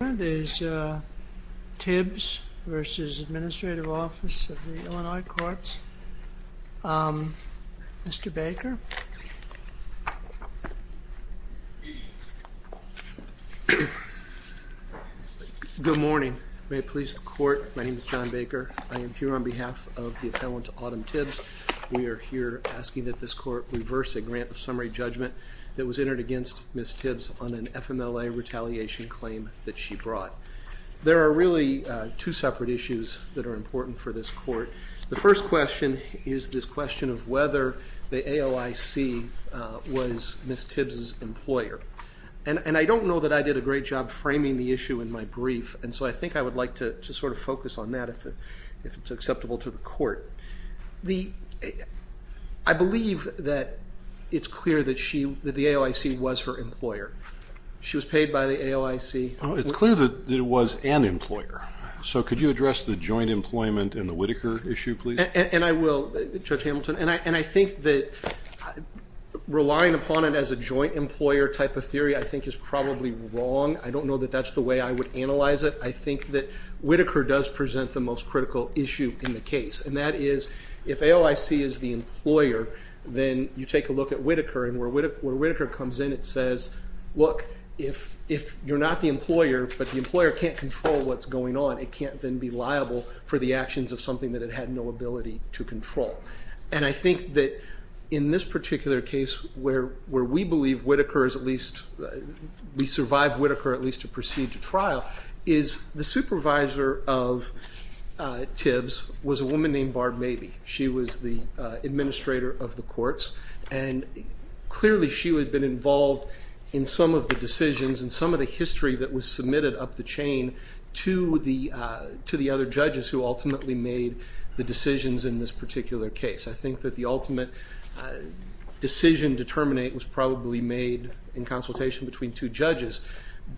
Illinois Courts. Mr. Baker. Good morning. May it please the court, my name is John Baker. I am here on behalf of the appellant, Autumn Tibbs. We are here asking that this court reverse a grant of summary judgment that was entered against Ms. Tibbs on an FMLA retaliation claim that she brought. There are really two separate issues that are important for this court. The first question is this question of whether the AOIC was Ms. Tibbs's employer. And I don't know that I did a great job framing the issue in my brief, and so I think I would like to sort of focus on that if it's acceptable to the court. I believe that it's her employer. She was paid by the AOIC. It's clear that it was an employer. So could you address the joint employment and the Whitaker issue, please? And I will, Judge Hamilton. And I think that relying upon it as a joint employer type of theory I think is probably wrong. I don't know that that's the way I would analyze it. I think that Whitaker does present the most critical issue in the case, and that is if AOIC is the employer, then you take a look at Whitaker, and where Whitaker comes in it says, look, if you're not the employer but the employer can't control what's going on, it can't then be liable for the actions of something that it had no ability to control. And I think that in this particular case where we believe Whitaker is at least, we survive Whitaker at least to proceed to trial, is the supervisor of Tibbs was a woman named Barb Mabee. She was the administrator of the courts, and clearly she would have been involved in some of the decisions and some of the history that was submitted up the chain to the other judges who ultimately made the decisions in this particular case. I think that the ultimate decision to terminate was probably made in consultation between two judges.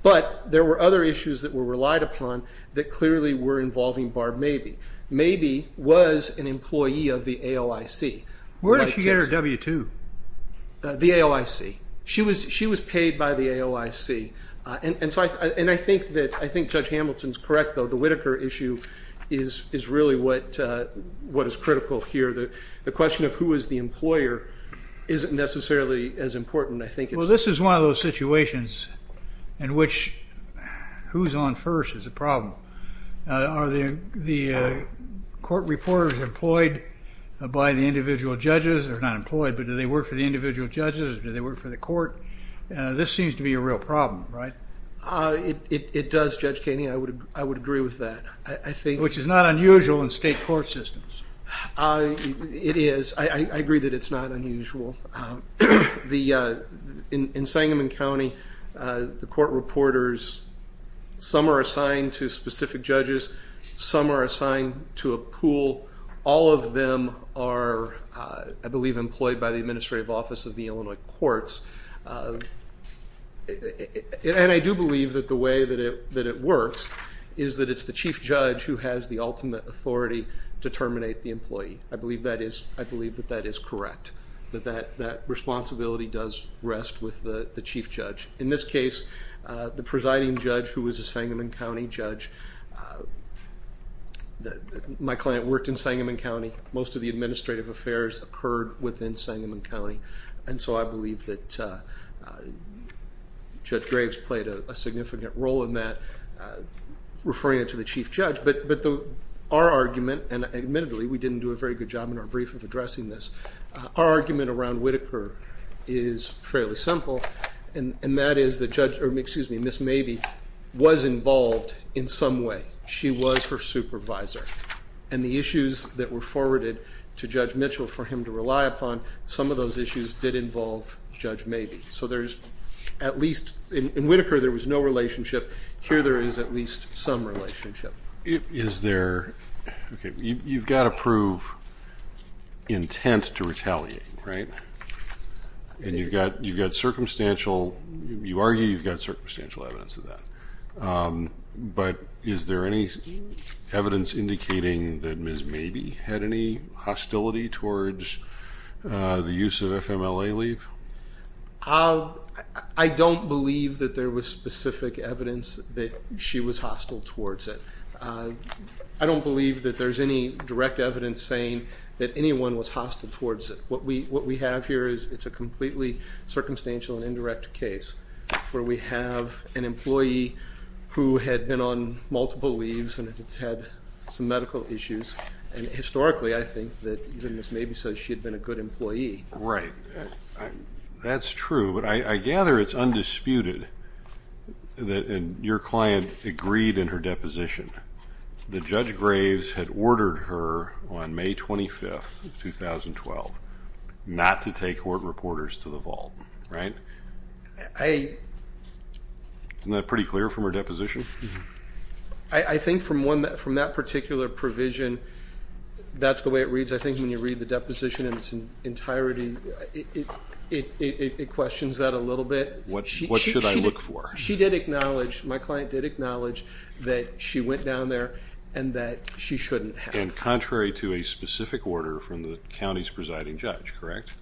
But there were other issues that were relied upon that clearly were involving Barb Mabee. Mabee was an employee of the AOIC. Where did she get her W-2? The AOIC. She was paid by the AOIC. And I think Judge Hamilton's correct though, the Whitaker issue is really what is critical here. The question of who is the employer isn't necessarily as important, I think. Well, this is one of those situations in which who's on first is a problem. Are the court reporters employed by the individual judges? They're not employed, but do they work for the individual judges? Do they work for the court? This seems to be a real problem, right? It does, Judge Keeney. I would agree with that. Which is not unusual in state court systems. It is. I agree that it's not unusual. In Sangamon County, the court reporters, some are assigned to specific judges, some are assigned to a pool. All of them are, I believe, employed by the Administrative Office of the Illinois Courts. And I do believe that the way that it works is that it's the chief judge who has the ultimate authority to terminate the employee. I believe that is correct, that responsibility does rest with the chief judge. In this case, the presiding judge, who was a Sangamon County judge, my client worked in Sangamon County. Most of the administrative affairs occurred within Sangamon County. And so I believe that Judge Graves played a significant role in that, referring it to the chief judge. But our argument, and admittedly we didn't do a very good job in our brief of addressing this, our argument around Whitaker is fairly simple, and that is that Judge, excuse me, Ms. Mabee was involved in some way. She was her supervisor. And the issues that were forwarded to Judge Mitchell for him to rely upon, some of those issues did involve Judge Mabee. So there's at least, in Whitaker there was no relationship, here there is at least some relationship. Is there, okay, you've got to prove intent to retaliate, right? And you've got circumstantial, you argue you've got circumstantial evidence of that. But is there any evidence indicating that Ms. Mabee had any hostility towards the use of was hostile towards it? I don't believe that there's any direct evidence saying that anyone was hostile towards it. What we have here is it's a completely circumstantial and indirect case, where we have an employee who had been on multiple leaves and had some medical issues, and historically I think that Ms. Mabee said she had been a good employee. Right, that's true, but I gather it's undisputed that your client agreed in her deposition that Judge Graves had ordered her on May 25th, 2012, not to take Horton Reporters to the vault, right? Isn't that pretty clear from her deposition? I think from that particular provision, that's the way it reads. I think when you read the deposition in its entirety, it questions that a little bit. What should I look for? She did acknowledge, my client did acknowledge, that she went down there and that she shouldn't have. And contrary to a specific order from the county's presiding judge, correct?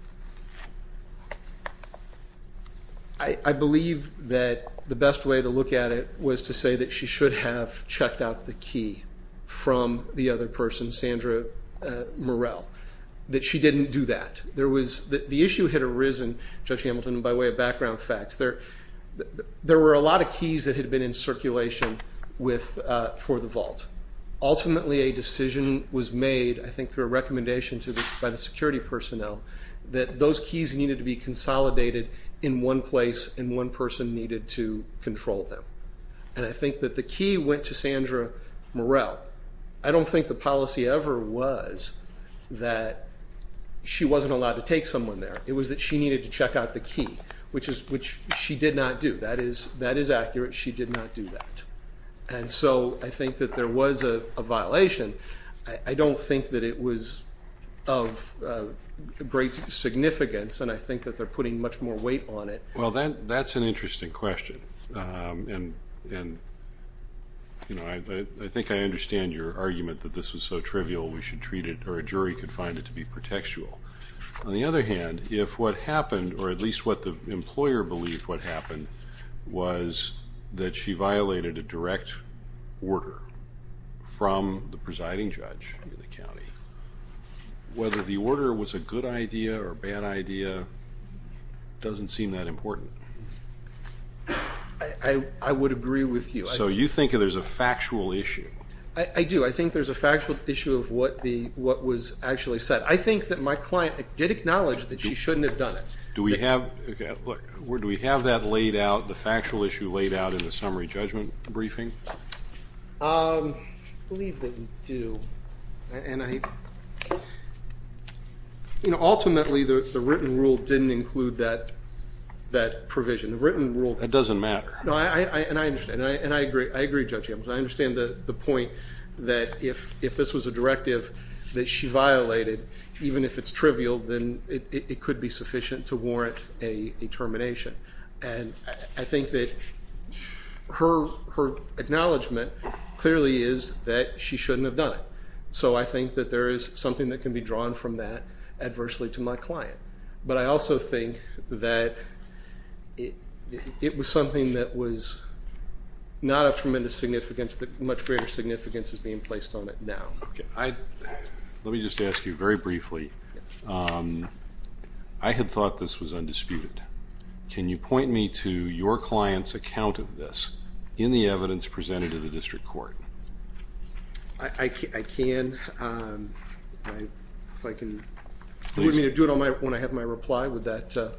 I believe that the best way to look at it was to say that she should have checked out the key from the other person, Sandra Murrell, that she didn't do that. The issue had arisen, Judge Hamilton, by way of background facts. There were a lot of keys that had been in circulation for the vault. Ultimately a decision was made, I think through a recommendation by the security personnel, that those keys needed to be consolidated in one place and one person needed to control them. And I think that the key went to Sandra Murrell. I don't think the policy ever was that she wasn't allowed to take someone there. It was that she needed to check out the key, which she did not do. That is accurate. She did not do that. And so I think that there was a violation. I don't think that it was of great significance and I think that they're putting much more weight on it. Well, that's an interesting question. I think I understand your argument that this was so trivial we should treat it, or a jury could find it to be pretextual. On the other hand, if what happened, or at least what the employer believed what happened, was that she violated a direct order from the presiding judge in the county, whether the order was a good idea or a bad idea doesn't seem that important. I would agree with you. So you think there's a factual issue? I do. I think there's a factual issue of what was actually said. I think that my client did acknowledge that she shouldn't have done it. Do we have that laid out, the factual issue laid out in the summary that provision, the written rule? That doesn't matter. No, and I understand, and I agree with Judge Hamilton. I understand the point that if this was a directive that she violated, even if it's trivial, then it could be sufficient to warrant a termination. And I think that her acknowledgment clearly is that she shouldn't have done it. So I think that there is something that can be drawn from that It was something that was not of tremendous significance, that much greater significance is being placed on it now. Let me just ask you very briefly. I had thought this was undisputed. Can you point me to your client's account of this in the evidence presented to the district court? I can. If I can. Do you want me to do it when I have my reply? Would that...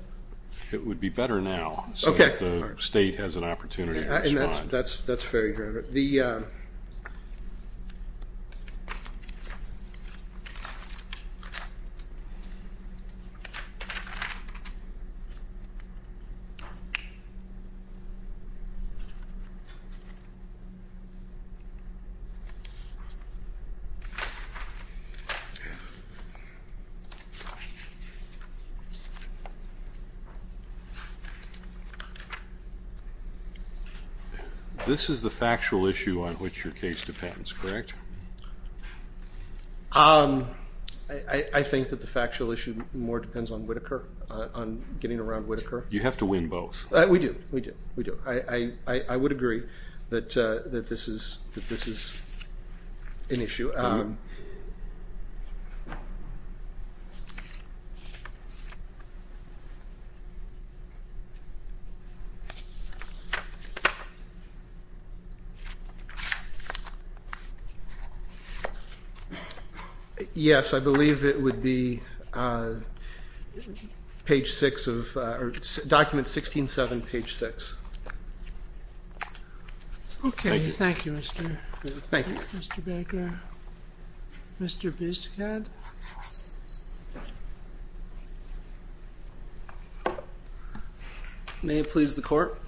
It would be better now so that the state has an opportunity to respond. That's fair, Your Honor. This is the factual issue on which your case depends, correct? I think that the factual issue more depends on Whittaker, on getting around Whittaker. You have to win both. We do. We do. I would agree that this is an issue. Yes, I believe it would be document 16-7, page 6. Okay. Thank you, Mr. Baker. Mr. Biscott. May it please the court.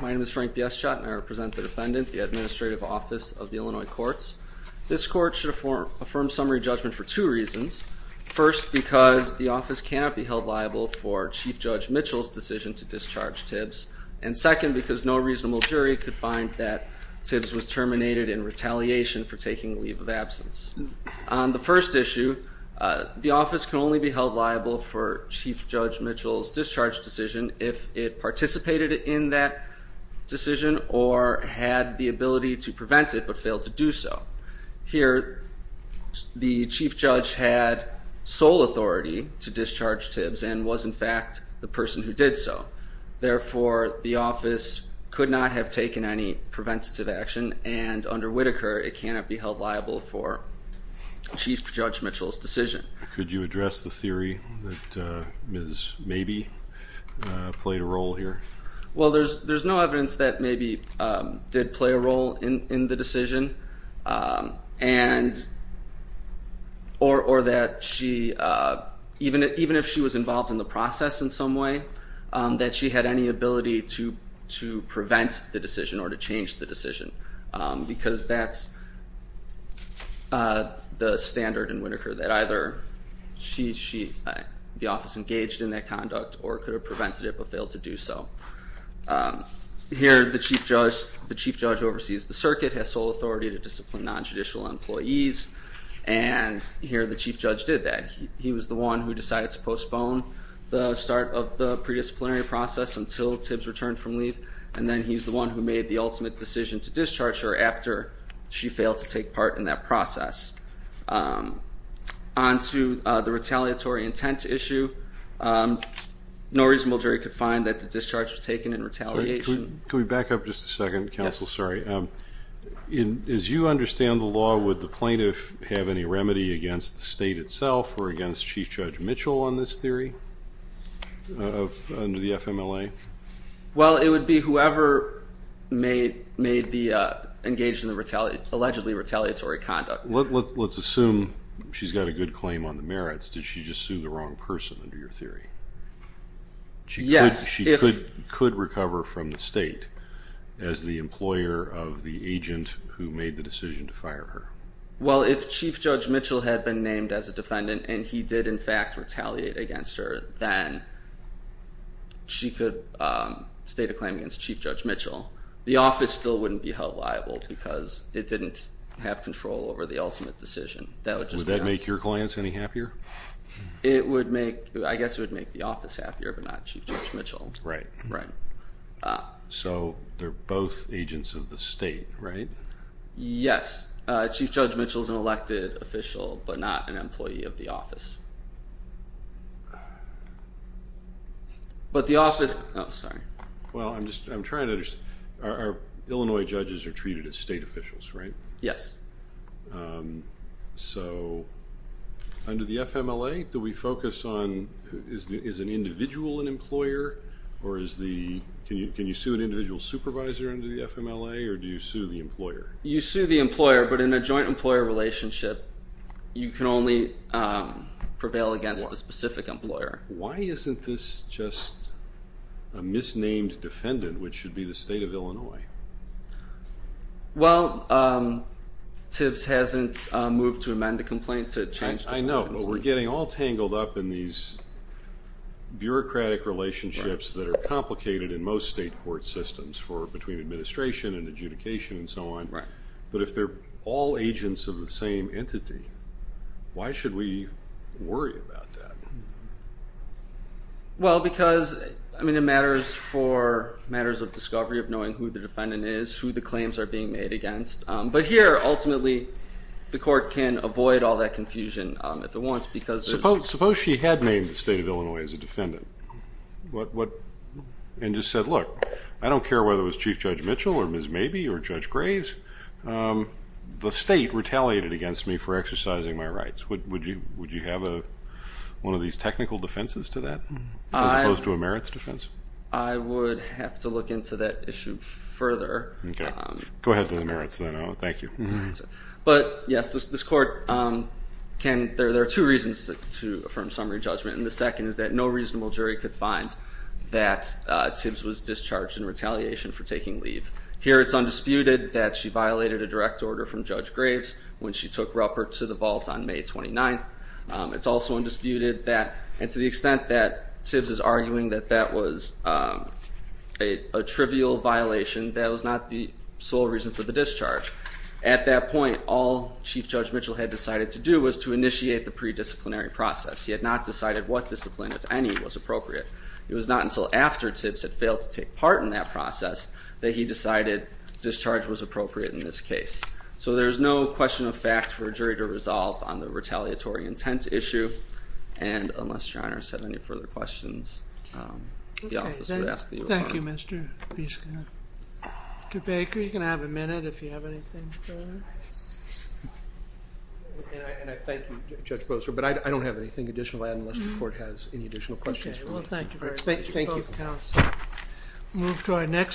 My name is Frank Bieschott and I represent the defendant, the Administrative Office of the Illinois Courts. This court should affirm summary judgment for two reasons. First, because the office cannot be held liable for Chief Judge Mitchell's decision to discharge Tibbs. And second, because no reasonable jury could find that Tibbs was terminated in retaliation for taking a leave of absence. On the first issue, the office can only be held liable for Chief Judge Mitchell's discharge decision if it participated in that decision or had the ability to prevent it but failed to do so. Here, the Chief Judge had sole authority to discharge Tibbs and was in fact the person who did so. Therefore, the office could not have taken any preventative action and under Whittaker, it cannot be held liable for Chief Judge Mitchell's decision. Could you address the theory that Ms. Mabee played a role here? Well, there's no evidence that Mabee did play a role in the decision or that she, even if she was involved in the process in some way, that she had any ability to prevent the decision or to change the decision. Because that's the standard in Whittaker, that either she, the office engaged in that conduct or could have prevented it but failed to do so. Here, the Chief Judge oversees the circuit, has sole authority to discipline non-judicial employees, and here the Chief Judge did that. He was the one who decided to postpone the start of the pre-disciplinary process until Tibbs returned from leave. And then he's the one who made the ultimate decision to discharge her after she failed to take part in that process. On to the retaliatory intent issue, no reasonable jury could find that the discharge was taken in retaliation. Could we back up just a second, counsel? Yes. Sorry. As you understand the law, would the plaintiff have any remedy against the state itself or against Chief Judge Mitchell on this theory under the FMLA? Well, it would be whoever engaged in the allegedly retaliatory conduct. Let's assume she's got a good claim on the merits. Did she just sue the wrong person under your theory? Yes. She could recover from the state as the employer of the agent who made the decision to fire her. Well, if Chief Judge Mitchell had been named as a defendant and he did, in fact, retaliate against her, then she could state a claim against Chief Judge Mitchell. The office still wouldn't be held liable because it didn't have control over the ultimate decision. Would that make your clients any happier? It would make, I guess it would make the office happier, but not Chief Judge Mitchell. Right. Right. So they're both agents of the state, right? Yes. Chief Judge Mitchell is an elected official but not an employee of the office. But the office Oh, sorry. Well, I'm trying to understand. Illinois judges are treated as state officials, right? Yes. So under the FMLA, do we focus on, is an individual an employer or is the, can you sue an individual supervisor under the FMLA or do you sue the employer? You sue the employer, but in a joint employer relationship, you can only prevail against the specific employer. Why isn't this just a misnamed defendant, which should be the state of Illinois? Well, TIBS hasn't moved to amend the complaint to change the defendant's name. I know, but we're getting all tangled up in these bureaucratic relationships that are complicated in most state court systems for, between administration and adjudication and so on. Right. But if they're all agents of the same entity, why should we worry about that? Well, because, I mean, it matters for matters of discovery of knowing who the defendant is, who the claims are being made against. But here, ultimately, the court can avoid all that confusion at the once because there's Suppose she had named the state of Illinois as a defendant and just said, look, I don't care whether it was Chief Judge Mitchell or Ms. Mabee or Judge Graves. The state retaliated against me for exercising my rights. Would you have one of these technical defenses to that as opposed to a merits defense? I would have to look into that issue further. Okay. Go ahead to the merits then. Thank you. But, yes, this court can, there are two reasons to affirm summary judgment. And the second is that no reasonable jury could find that TIBS was discharged in retaliation for taking leave. Here, it's undisputed that she violated a direct order from Judge Graves when she took Ruppert to the vault on May 29th. It's also undisputed that, and to the extent that TIBS is arguing that that was a trivial violation, that was not the sole reason for the discharge. At that point, all Chief Judge Mitchell had decided to do was to initiate the predisciplinary process. He had not decided what discipline, if any, was appropriate. It was not until after TIBS had failed to take part in that process that he decided discharge was appropriate in this case. So there's no question of fact for a jury to resolve on the retaliatory intent issue. And unless your Honor has any further questions, the office would ask that you respond. Okay. Thank you, Mr. Bieska. Mr. Baker, you can have a minute if you have anything further. And I thank you, Judge Bozer, but I don't have anything additional to add unless the court has any additional questions for me. Okay, well thank you very much to both counsel. Move to our next